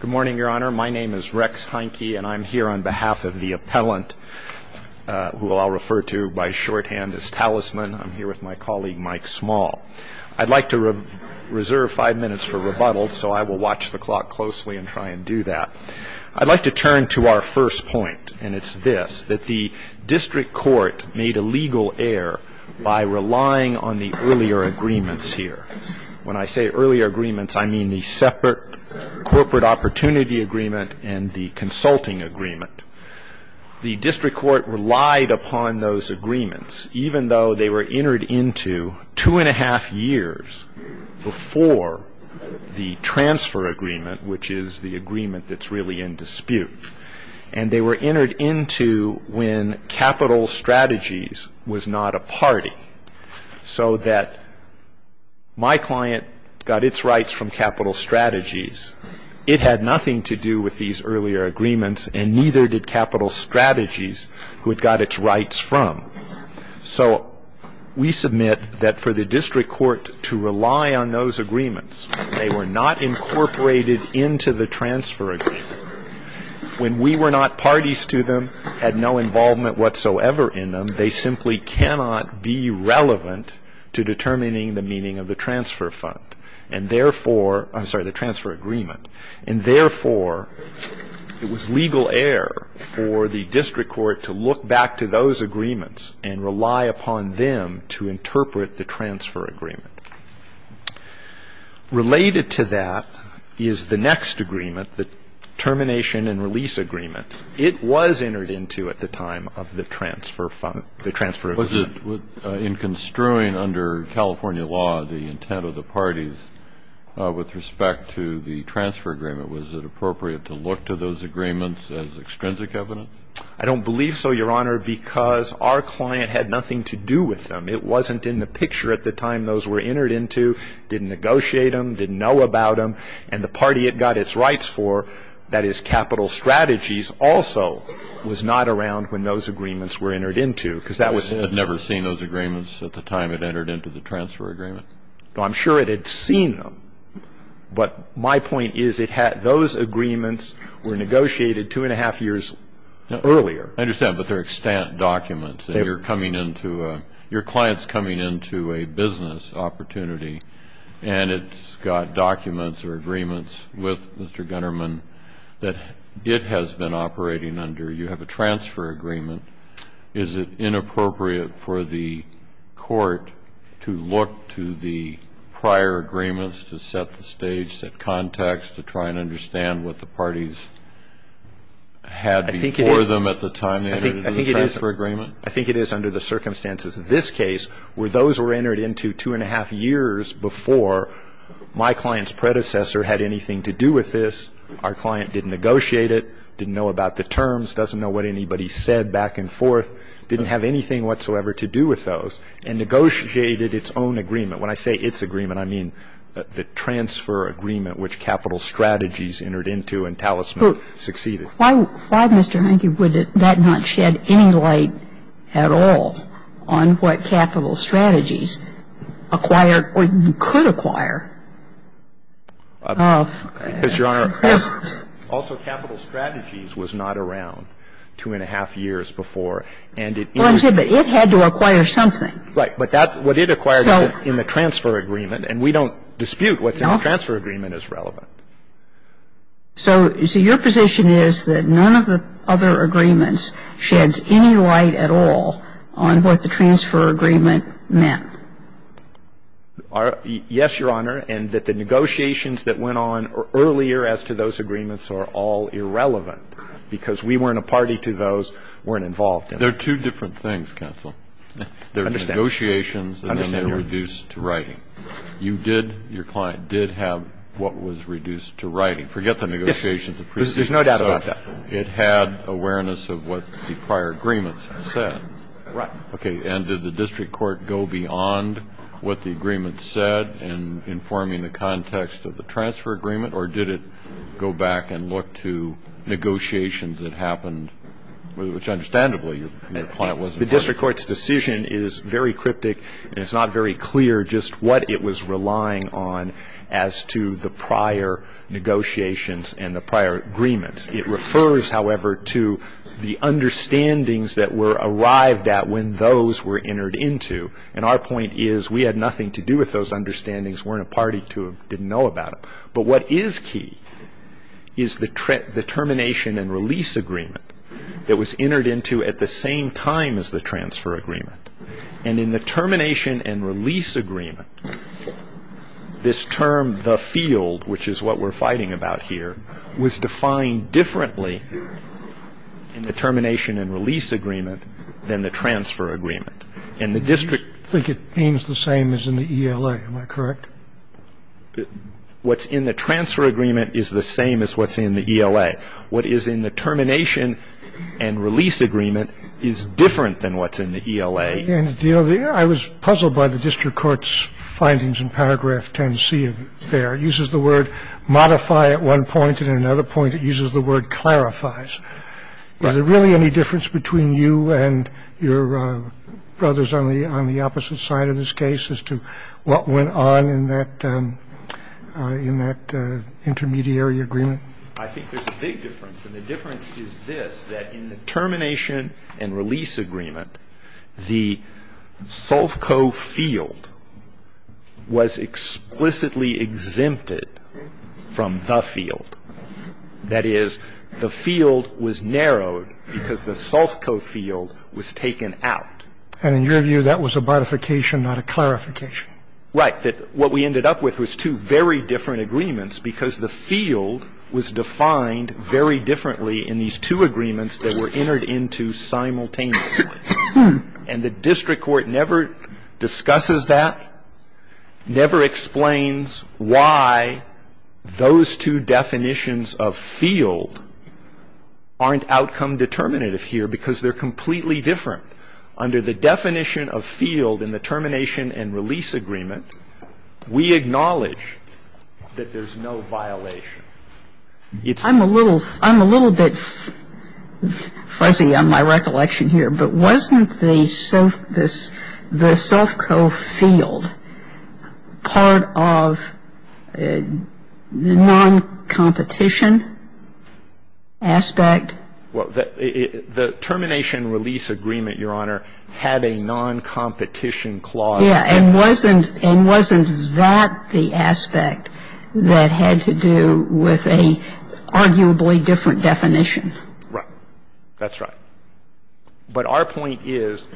Good morning, Your Honor. My name is Rex Heinke, and I'm here on behalf of the appellant who I'll refer to by shorthand as Talisman. I'm here with my colleague, Mike Small. I'd like to reserve five minutes for rebuttal, so I will watch the clock closely and try and do that. I'd like to turn to our first point, and it's this, that the district court made a legal error by relying on the earlier agreements here. When I say earlier agreements, I mean the separate corporate opportunity agreement and the consulting agreement. The district court relied upon those agreements, even though they were entered into two and a half years before the transfer agreement, which is the agreement that's really in dispute. And they were entered into when Capital Strategies was not a party, so that my client got its rights from Capital Strategies. It had nothing to do with these earlier agreements, and neither did Capital Strategies, who it got its rights from. So we submit that for the district court to rely on those agreements, they were not incorporated into the transfer agreement. When we were not parties to them, had no involvement whatsoever in them, they simply cannot be relevant to determining the meaning of the transfer fund. And therefore, I'm sorry, the transfer agreement. And therefore, it was legal error for the district court to look back to those agreements and rely upon them to interpret the transfer agreement. Related to that is the next agreement, the termination and release agreement. It was entered into at the time of the transfer fund, the transfer agreement. In construing under California law the intent of the parties with respect to the transfer agreement, was it appropriate to look to those agreements as extrinsic evidence? I don't believe so, Your Honor, because our client had nothing to do with them. It wasn't in the picture at the time those were entered into, didn't negotiate them, didn't know about them, and the party it got its rights for, that is Capital Strategies, also was not around when those agreements were entered into. I had never seen those agreements at the time it entered into the transfer agreement. I'm sure it had seen them, but my point is those agreements were negotiated two and a half years earlier. I understand, but they're extant documents. Your client's coming into a business opportunity, and it's got documents or agreements with Mr. Gunnerman that it has been operating under. You have a transfer agreement. Is it inappropriate for the court to look to the prior agreements to set the stage, set context to try and understand what the parties had before them at the time they entered into the transfer agreement? I think it is under the circumstances of this case, where those were entered into two and a half years before my client's predecessor had anything to do with this. Our client didn't negotiate it, didn't know about the terms, doesn't know what anybody said back and forth, didn't have anything whatsoever to do with those, and negotiated its own agreement. When I say its agreement, I mean the transfer agreement, which Capital Strategies entered into and Talisman succeeded. Why, Mr. Henke, would that not shed any light at all on what Capital Strategies acquired or could acquire? Because, Your Honor, also Capital Strategies was not around two and a half years before, and it entered into the transfer agreement. But it had to acquire something. Right. But that's what it acquired in the transfer agreement. And we don't dispute what's in the transfer agreement as relevant. So your position is that none of the other agreements sheds any light at all on what the transfer agreement meant? Yes, Your Honor, and that the negotiations that went on earlier as to those agreements are all irrelevant, because we weren't a party to those, weren't involved in them. They're two different things, counsel. I understand. They're negotiations and then they're reduced to writing. Your client did have what was reduced to writing. Forget the negotiations. There's no doubt about that. It had awareness of what the prior agreements said. Right. Okay. And did the district court go beyond what the agreement said in informing the context of the transfer agreement, or did it go back and look to negotiations that happened, which, understandably, your client was involved in? The district court's decision is very cryptic and it's not very clear just what it was relying on as to the prior negotiations and the prior agreements. It refers, however, to the understandings that were arrived at when those were entered into. And our point is we had nothing to do with those understandings, weren't a party to them, didn't know about them. But what is key is the termination and release agreement that was entered into at the same time as the transfer agreement. And in the termination and release agreement, this term, the field, which is what we're fighting about here, was defined differently in the termination and release agreement than the transfer agreement. Do you think it aims the same as in the ELA? Am I correct? What's in the transfer agreement is the same as what's in the ELA. What is in the termination and release agreement is different than what's in the ELA. And, you know, I was puzzled by the district court's findings in paragraph 10c of there. It uses the word modify at one point and at another point it uses the word clarifies. Are there really any difference between you and your brothers on the opposite side of this case as to what went on in that in that intermediary agreement? I think there's a big difference. And the difference is this, that in the termination and release agreement, the Sulfco field was explicitly exempted from the field. That is, the field was narrowed because the Sulfco field was taken out. And in your view, that was a modification, not a clarification. Right. That what we ended up with was two very different agreements because the field was defined very differently in these two agreements that were entered into simultaneously. And the district court never discusses that, never explains why those two definitions of field aren't outcome determinative here because they're completely different. Under the definition of field in the termination and release agreement, we acknowledge that there's no violation. I'm a little bit fuzzy on my recollection here. But wasn't the Sulfco field part of the non-competition aspect? Well, the termination and release agreement, Your Honor, had a non-competition clause. Yeah. And wasn't that the aspect that had to do with an arguably different definition? Right. That's right. But our point is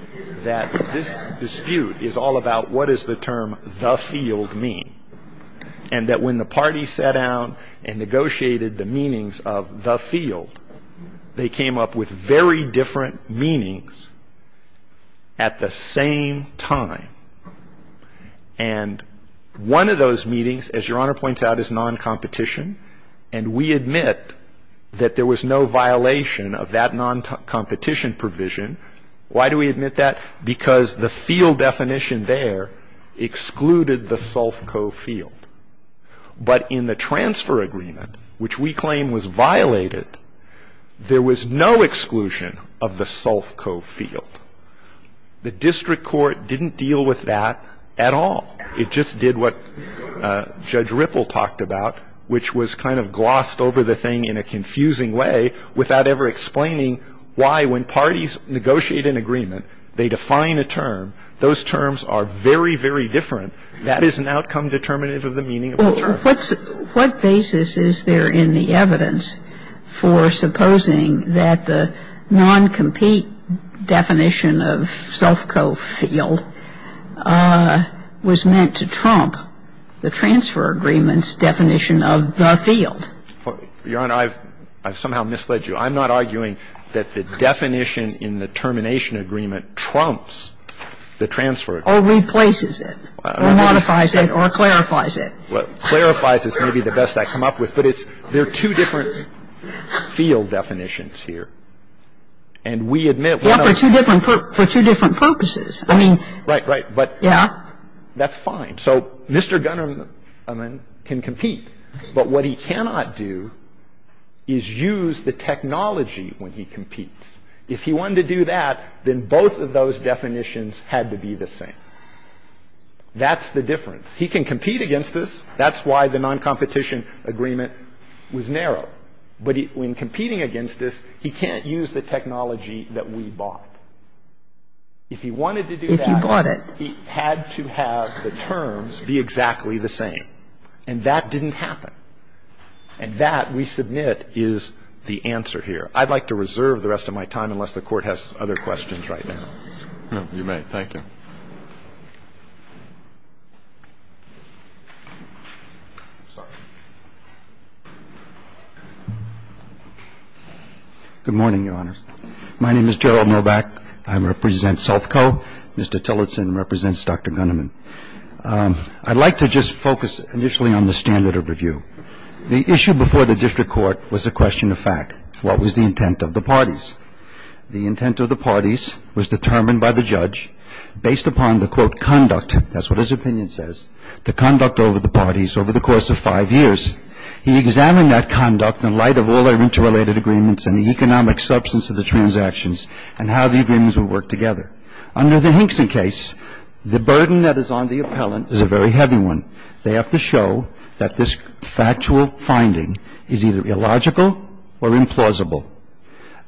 that this dispute is all about what does the term the field mean, and that when the parties sat down and negotiated the meanings of the field, they came up with very different meanings at the same time. And one of those meetings, as Your Honor points out, is non-competition. And we admit that there was no violation of that non-competition provision. Why do we admit that? Because the field definition there excluded the Sulfco field. But in the transfer agreement, which we claim was violated, there was no exclusion of the Sulfco field. The district court didn't deal with that at all. It just did what Judge Ripple talked about, which was kind of glossed over the thing in a confusing way without ever explaining why when parties negotiate an agreement, they define a term. Those terms are very, very different. That is an outcome determinative of the meaning of the term. What basis is there in the evidence for supposing that the non-compete definition of Sulfco field was meant to trump the transfer agreement's definition of the field? Your Honor, I've somehow misled you. I'm not arguing that the definition in the termination agreement trumps the transfer agreement. Or replaces it, or modifies it, or clarifies it. Clarifies is maybe the best I come up with. But there are two different field definitions here. And we admit one of them. For two different purposes. I mean, yeah. Right, right. But that's fine. So Mr. Gunnerman can compete. But what he cannot do is use the technology when he competes. If he wanted to do that, then both of those definitions had to be the same. That's the difference. He can compete against us. That's why the non-competition agreement was narrow. But when competing against us, he can't use the technology that we bought. If he wanted to do that, he had to have the terms be exactly the same. And that didn't happen. And that, we submit, is the answer here. I'd like to reserve the rest of my time unless the Court has other questions right now. You may. Thank you. Good morning, Your Honor. My name is Gerald Novak. I represent SELFCO. Mr. Tillotson represents Dr. Gunnerman. I'd like to just focus initially on the standard of review. The issue before the district court was a question of fact. What was the intent of the parties? The intent of the parties was determined by the judge based upon the, quote, conduct, that's what his opinion says, the conduct over the parties over the course of five years. He examined that conduct in light of all our interrelated agreements and the economic substance of the transactions and how the agreements would work together. Under the Hinkson case, the burden that is on the appellant is a very heavy one. They have to show that this factual finding is either illogical or implausible.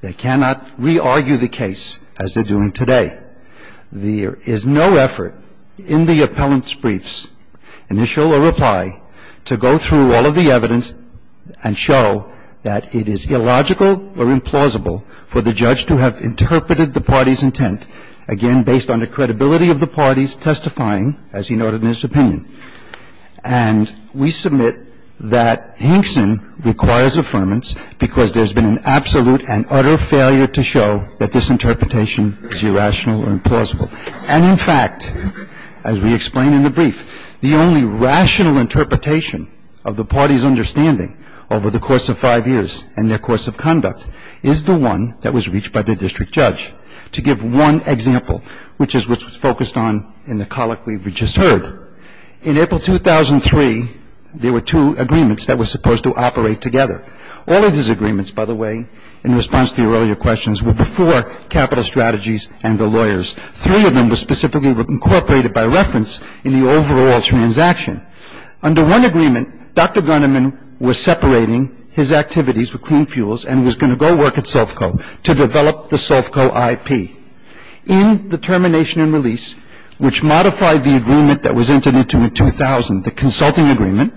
They cannot re-argue the case as they're doing today. There is no effort in the appellant's briefs, initial or reply, to go through all of the evidence and show that it is illogical or implausible for the judge to have interpreted the parties' intent, again, based on the credibility of the parties testifying, as he noted in his opinion. And we submit that Hinkson requires affirmance because there's been an absolute and utter failure to show that this interpretation is irrational or implausible. And, in fact, as we explain in the brief, the only rational interpretation of the parties' understanding over the course of five years and their course of conduct is the one that was reached by the district judge. To give one example, which is what's focused on in the colloquy we just heard, in April 2003, there were two agreements that were supposed to operate together. All of these agreements, by the way, in response to your earlier questions, were before capital strategies and the lawyers. Three of them were specifically incorporated by reference in the overall transaction. Under one agreement, Dr. Gunneman was separating his activities with clean fuels and was going to go work at Sovco to develop the Sovco IP. In the termination and release, which modified the agreement that was entered into in 2000, the consulting agreement,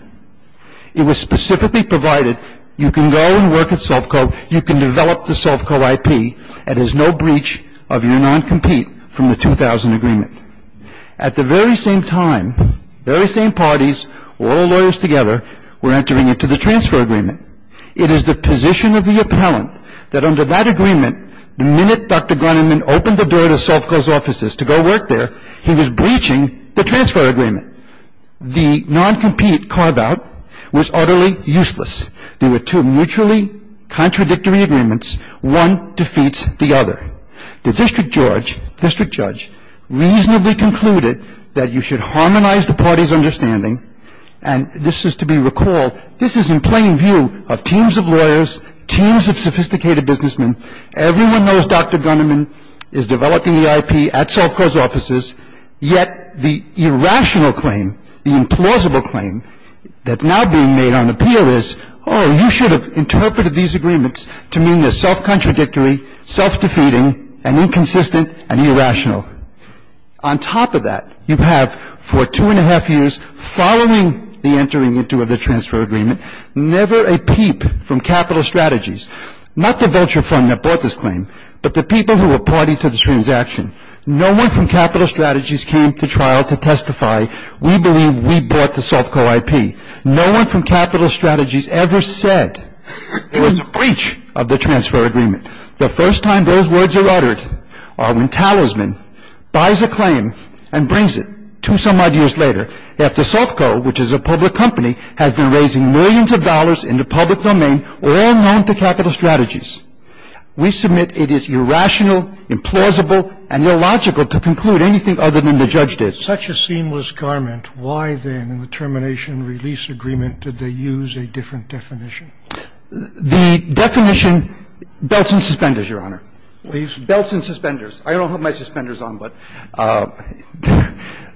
it was specifically provided you can go and work at Sovco, you can develop the Sovco IP, and there's no breach of your non-compete from the 2000 agreement. At the very same time, very same parties, all the lawyers together, were entering into the transfer agreement. It is the position of the appellant that under that agreement, the minute Dr. Gunneman opened the door to Sovco's offices to go work there, he was breaching the transfer agreement. The non-compete carve-out was utterly useless. There were two mutually contradictory agreements. One defeats the other. The district judge reasonably concluded that you should harmonize the party's understanding, and this is to be recalled. This is in plain view of teams of lawyers, teams of sophisticated businessmen. Everyone knows Dr. Gunneman is developing the IP at Sovco's offices, yet the irrational claim, the implausible claim that's now being made on appeal is, oh, you should have interpreted these agreements to mean they're self-contradictory, On top of that, you have for two and a half years, following the entering into the transfer agreement, never a peep from Capital Strategies, not the vulture fund that bought this claim, but the people who were party to this transaction. No one from Capital Strategies came to trial to testify, we believe we bought the Sovco IP. No one from Capital Strategies ever said it was a breach of the transfer agreement. The first time those words are uttered are when Talisman buys a claim and brings it, two and a half years later, after Sovco, which is a public company, has been raising millions of dollars in the public domain, all known to Capital Strategies. We submit it is irrational, implausible, and illogical to conclude anything other than the judge did. Such a seamless garment. Why, then, in the termination release agreement, did they use a different definition? The definition belts and suspenders, Your Honor. Belts and suspenders. I don't have my suspenders on, but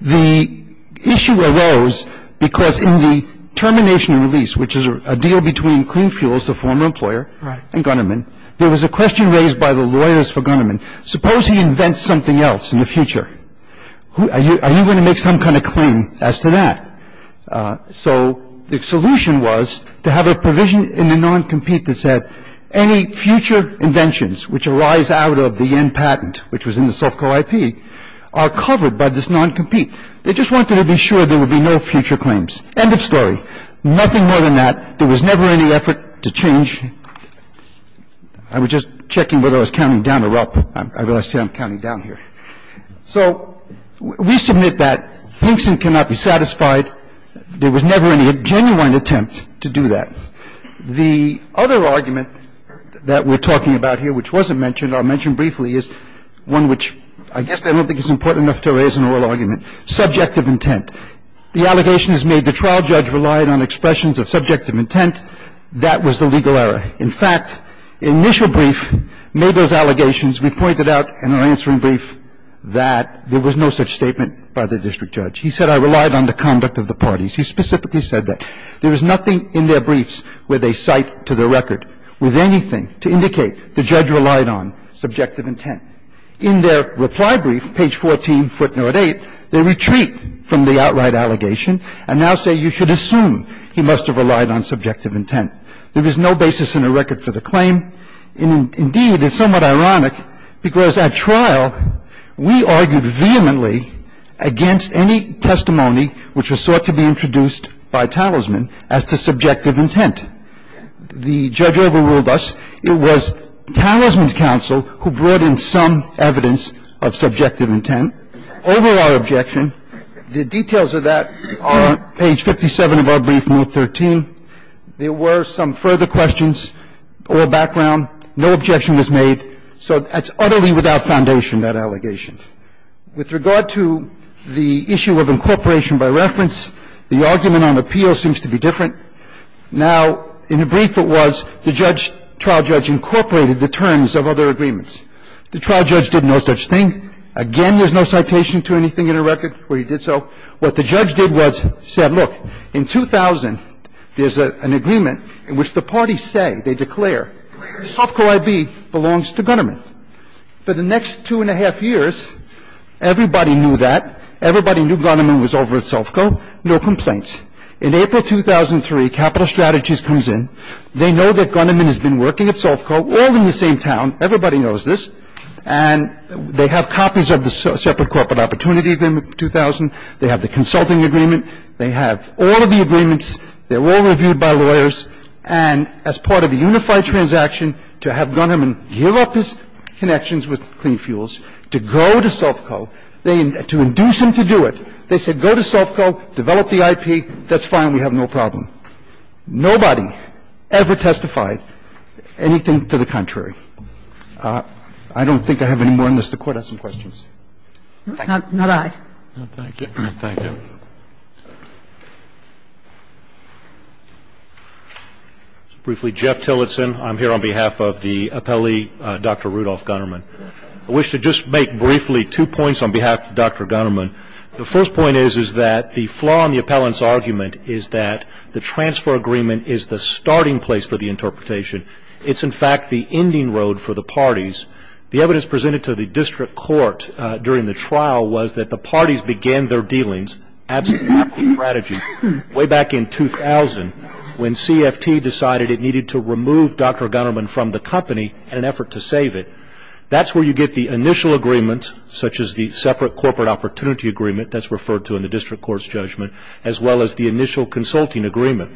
the issue arose because in the termination release, which is a deal between Clean Fuels, the former employer, and Gunnerman, there was a question raised by the lawyers for Gunnerman. Suppose he invents something else in the future. Are you going to make some kind of claim as to that? So the solution was to have a provision in the non-compete that said any future inventions which arise out of the yen patent, which was in the Sovco IP, are covered by this non-compete. They just wanted to be sure there would be no future claims. End of story. Nothing more than that. There was never any effort to change. I was just checking whether I was counting down or up. I realize I'm counting down here. So we submit that Hinkson cannot be satisfied. There was never any genuine attempt to do that. The other argument that we're talking about here which wasn't mentioned or mentioned briefly is one which I guess I don't think is important enough to raise in oral argument, subjective intent. The allegation is made the trial judge relied on expressions of subjective intent. That was the legal error. In fact, the initial brief made those allegations. We pointed out in our answering brief that there was no such statement by the district judge. He said I relied on the conduct of the parties. He specifically said that. There was nothing in their briefs where they cite to their record with anything to indicate the judge relied on subjective intent. In their reply brief, page 14, footnote 8, they retreat from the outright allegation and now say you should assume he must have relied on subjective intent. There was no basis in the record for the claim. Indeed, it's somewhat ironic because at trial we argued vehemently against any testimony which was sought to be introduced by Talisman as to subjective intent. The judge overruled us. It was Talisman's counsel who brought in some evidence of subjective intent. Over our objection, the details of that are on page 57 of our brief, note 13. There were some further questions or background. No objection was made. So that's utterly without foundation, that allegation. With regard to the issue of incorporation by reference, the argument on appeal seems to be different. Now, in the brief it was the judge, trial judge incorporated the terms of other agreements. The trial judge did no such thing. Again, there's no citation to anything in the record where he did so. What the judge did was said, look, in 2000, there's an agreement in which the parties say, they declare, SOFCO IB belongs to Gunnerman. For the next two and a half years, everybody knew that. Everybody knew Gunnerman was over at SOFCO. No complaints. In April 2003, Capital Strategies comes in. They know that Gunnerman has been working at SOFCO all in the same town. Everybody knows this. And they have copies of the separate corporate opportunity in 2000. They have the consulting agreement. They have all of the agreements. They're all reviewed by lawyers. And as part of a unified transaction, to have Gunnerman give up his connections with Clean Fuels, to go to SOFCO, to induce him to do it, they said go to SOFCO, develop the IP, that's fine, we have no problem. Nobody ever testified anything to the contrary. I don't think I have any more on this. The Court has some questions. Thank you. Thank you. Briefly, Jeff Tillotson. I'm here on behalf of the appellee, Dr. Rudolph Gunnerman. I wish to just make briefly two points on behalf of Dr. Gunnerman. The first point is that the flaw in the appellant's argument is that the transfer agreement is the starting place for the interpretation. It's, in fact, the ending road for the parties. The evidence presented to the district court during the trial was that the parties began their dealings, absolutely radical strategy, way back in 2000 when CFT decided it needed to remove Dr. Gunnerman from the company in an effort to save it. That's where you get the initial agreement, such as the separate corporate opportunity agreement, that's referred to in the district court's judgment, as well as the initial consulting agreement.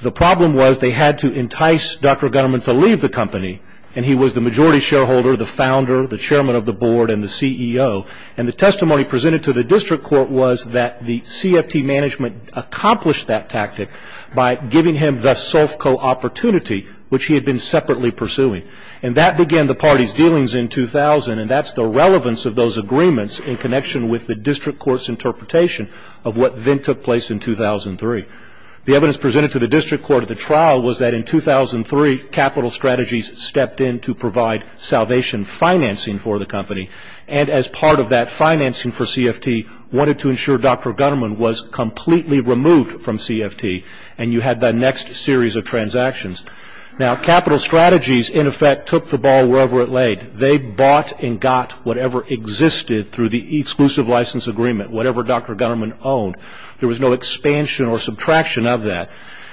The problem was they had to entice Dr. Gunnerman to leave the company, and he was the majority shareholder, the founder, the chairman of the board, and the CEO. And the testimony presented to the district court was that the CFT management accomplished that tactic by giving him the SOFCO opportunity, which he had been separately pursuing. And that began the parties' dealings in 2000, and that's the relevance of those agreements in connection with the district court's interpretation of what then took place in 2003. The evidence presented to the district court at the trial was that in 2003, Capital Strategies stepped in to provide salvation financing for the company, and as part of that financing for CFT wanted to ensure Dr. Gunnerman was completely removed from CFT, and you had the next series of transactions. Now, Capital Strategies, in effect, took the ball wherever it laid. They bought and got whatever existed through the exclusive license agreement, whatever Dr. Gunnerman owned. There was no expansion or subtraction of that.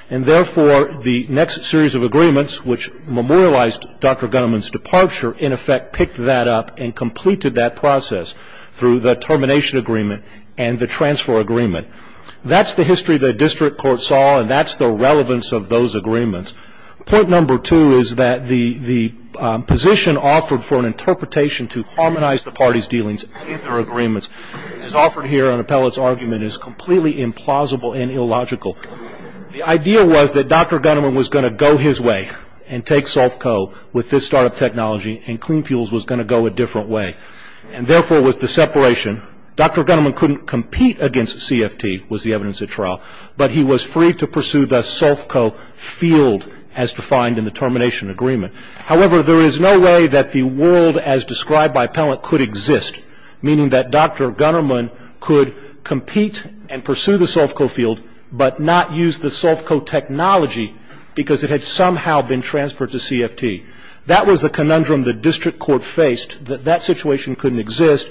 And therefore, the next series of agreements, which memorialized Dr. Gunnerman's departure, in effect picked that up and completed that process through the termination agreement and the transfer agreement. That's the history the district court saw, and that's the relevance of those agreements. Point number two is that the position offered for an interpretation to harmonize the parties' dealings as offered here on Appellate's argument is completely implausible and illogical. The idea was that Dr. Gunnerman was going to go his way and take Sulfco with this startup technology, and Clean Fuels was going to go a different way, and therefore was the separation. Dr. Gunnerman couldn't compete against CFT, was the evidence at trial, but he was free to pursue the Sulfco field as defined in the termination agreement. However, there is no way that the world as described by Appellate could exist, meaning that Dr. Gunnerman could compete and pursue the Sulfco field, but not use the Sulfco technology because it had somehow been transferred to CFT. That was the conundrum the district court faced, that that situation couldn't exist.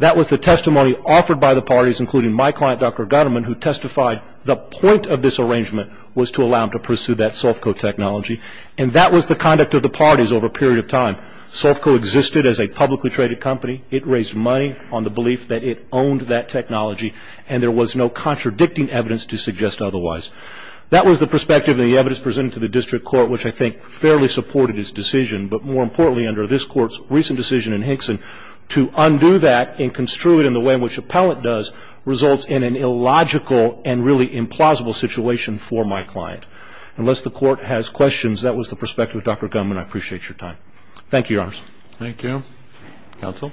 That was the testimony offered by the parties, including my client, Dr. Gunnerman, who testified the point of this arrangement was to allow him to pursue that Sulfco technology. And that was the conduct of the parties over a period of time. Sulfco existed as a publicly traded company. It raised money on the belief that it owned that technology, and there was no contradicting evidence to suggest otherwise. That was the perspective and the evidence presented to the district court, which I think fairly supported its decision, but more importantly, under this court's recent decision in Hinkson, to undo that and construe it in the way in which Appellate does results in an illogical and really implausible situation for my client. Unless the court has questions, that was the perspective of Dr. Gunnerman. I appreciate your time. Thank you, Your Honors. Thank you. Counsel?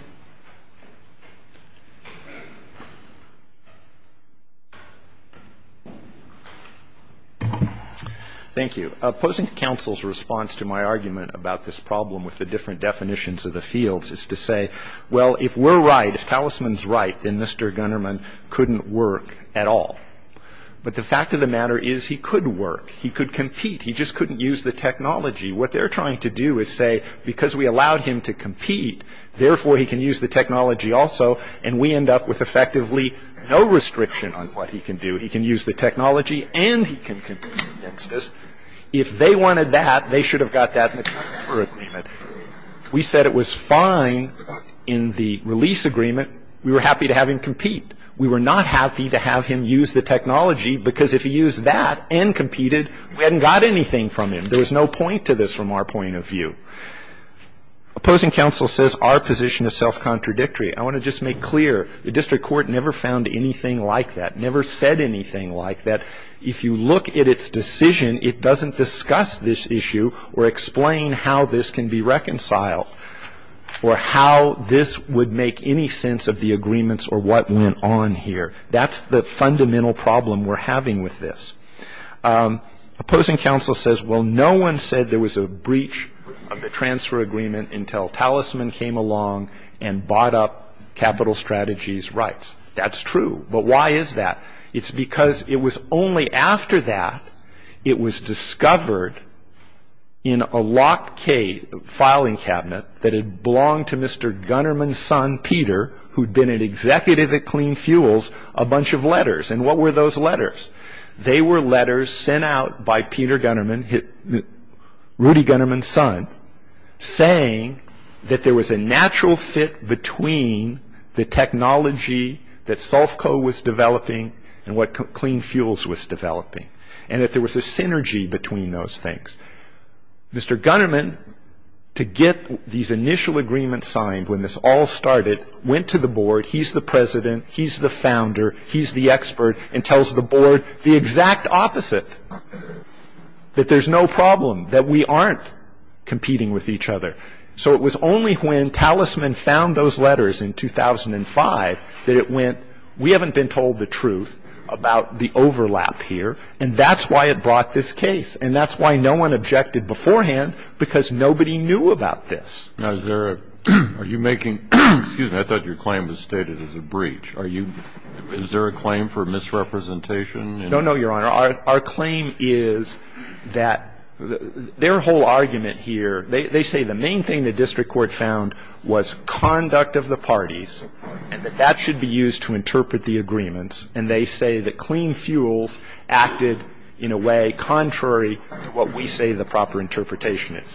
Thank you. Opposing counsel's response to my argument about this problem with the different definitions of the fields is to say, well, if we're right, if Talisman's right, then Mr. Gunnerman couldn't work at all. But the fact of the matter is he could work. He could compete. He just couldn't use the technology. What they're trying to do is say, because we allowed him to compete, therefore he can use the technology also, and we end up with effectively no restriction on what he can do. He can use the technology and he can compete against us. If they wanted that, they should have got that in the transfer agreement. We said it was fine in the release agreement. We were happy to have him compete. We were not happy to have him use the technology because if he used that and competed, we hadn't got anything from him. There was no point to this from our point of view. Opposing counsel says our position is self-contradictory. I want to just make clear the district court never found anything like that, never said anything like that. If you look at its decision, it doesn't discuss this issue or explain how this can be reconciled or how this would make any sense of the agreements or what went on here. That's the fundamental problem we're having with this. Opposing counsel says, well, no one said there was a breach of the transfer agreement until talisman came along and bought up capital strategies rights. That's true. But why is that? It's because it was only after that it was discovered in a locked filing cabinet that it belonged to Mr. Gunnerman's son, Peter, who'd been an executive at Clean Fuels, a bunch of letters. And what were those letters? They were letters sent out by Peter Gunnerman, Rudy Gunnerman's son, saying that there was a natural fit between the technology that Solfco was developing and what Clean Fuels was developing and that there was a synergy between those things. Mr. Gunnerman, to get these initial agreements signed when this all started, went to the board. He's the president. He's the founder. He's the expert and tells the board the exact opposite, that there's no problem, that we aren't competing with each other. So it was only when talisman found those letters in 2005 that it went, we haven't been told the truth about the overlap here. And that's why it brought this case. And that's why no one objected beforehand, because nobody knew about this. Now, is there a – are you making – excuse me. I thought your claim was stated as a breach. Are you – is there a claim for misrepresentation? No, no, Your Honor. Our claim is that their whole argument here, they say the main thing the district court found was conduct of the parties and that that should be used to interpret the agreements. And they say that Clean Fuels acted in a way contrary to what we say the proper interpretation is.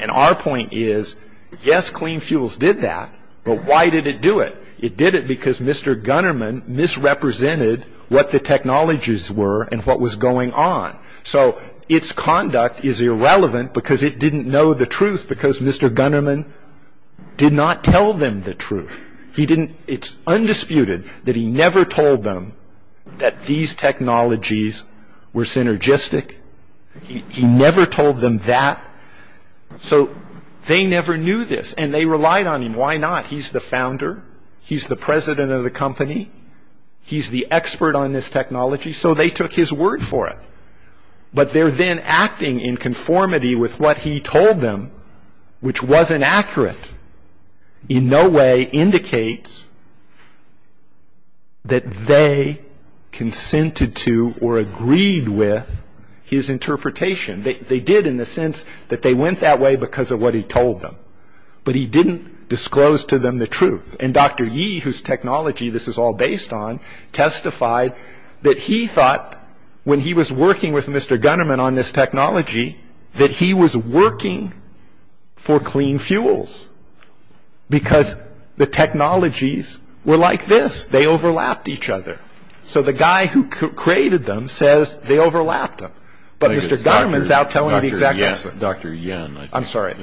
And our point is, yes, Clean Fuels did that, but why did it do it? It did it because Mr. Gunnerman misrepresented what the technologies were and what was going on. So its conduct is irrelevant because it didn't know the truth, because Mr. Gunnerman did not tell them the truth. He didn't – it's undisputed that he never told them that these technologies were synergistic. He never told them that. So they never knew this, and they relied on him. Why not? He's the founder. He's the president of the company. He's the expert on this technology. So they took his word for it. But their then acting in conformity with what he told them, which wasn't accurate, in no way indicates that they consented to or agreed with his interpretation. They did in the sense that they went that way because of what he told them. But he didn't disclose to them the truth. And Dr. Yee, whose technology this is all based on, testified that he thought when he was working with Mr. Gunnerman on this technology that he was working for Clean Fuels because the technologies were like this. They overlapped each other. So the guy who created them says they overlapped them. But Mr. Gunnerman's out telling the exact opposite. Dr. Yen. I'm sorry.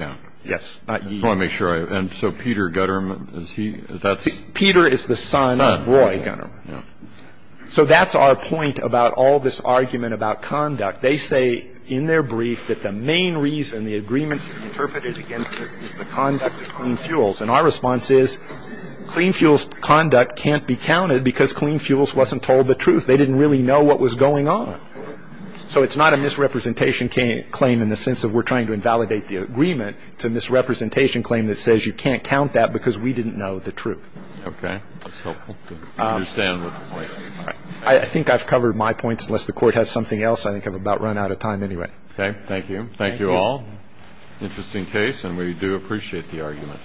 Yes. I just want to make sure. And so Peter Gunnerman, is he? Peter is the son of Roy Gunnerman. So that's our point about all this argument about conduct. They say in their brief that the main reason the agreement is interpreted against them is the conduct of Clean Fuels. And our response is Clean Fuels' conduct can't be counted because Clean Fuels wasn't told the truth. They didn't really know what was going on. So it's not a misrepresentation claim in the sense of we're trying to invalidate the agreement. It's a misrepresentation claim that says you can't count that because we didn't know the truth. Okay. I think I've covered my points unless the Court has something else. I think I've about run out of time anyway. Okay. Thank you. Thank you all. Interesting case and we do appreciate the argument.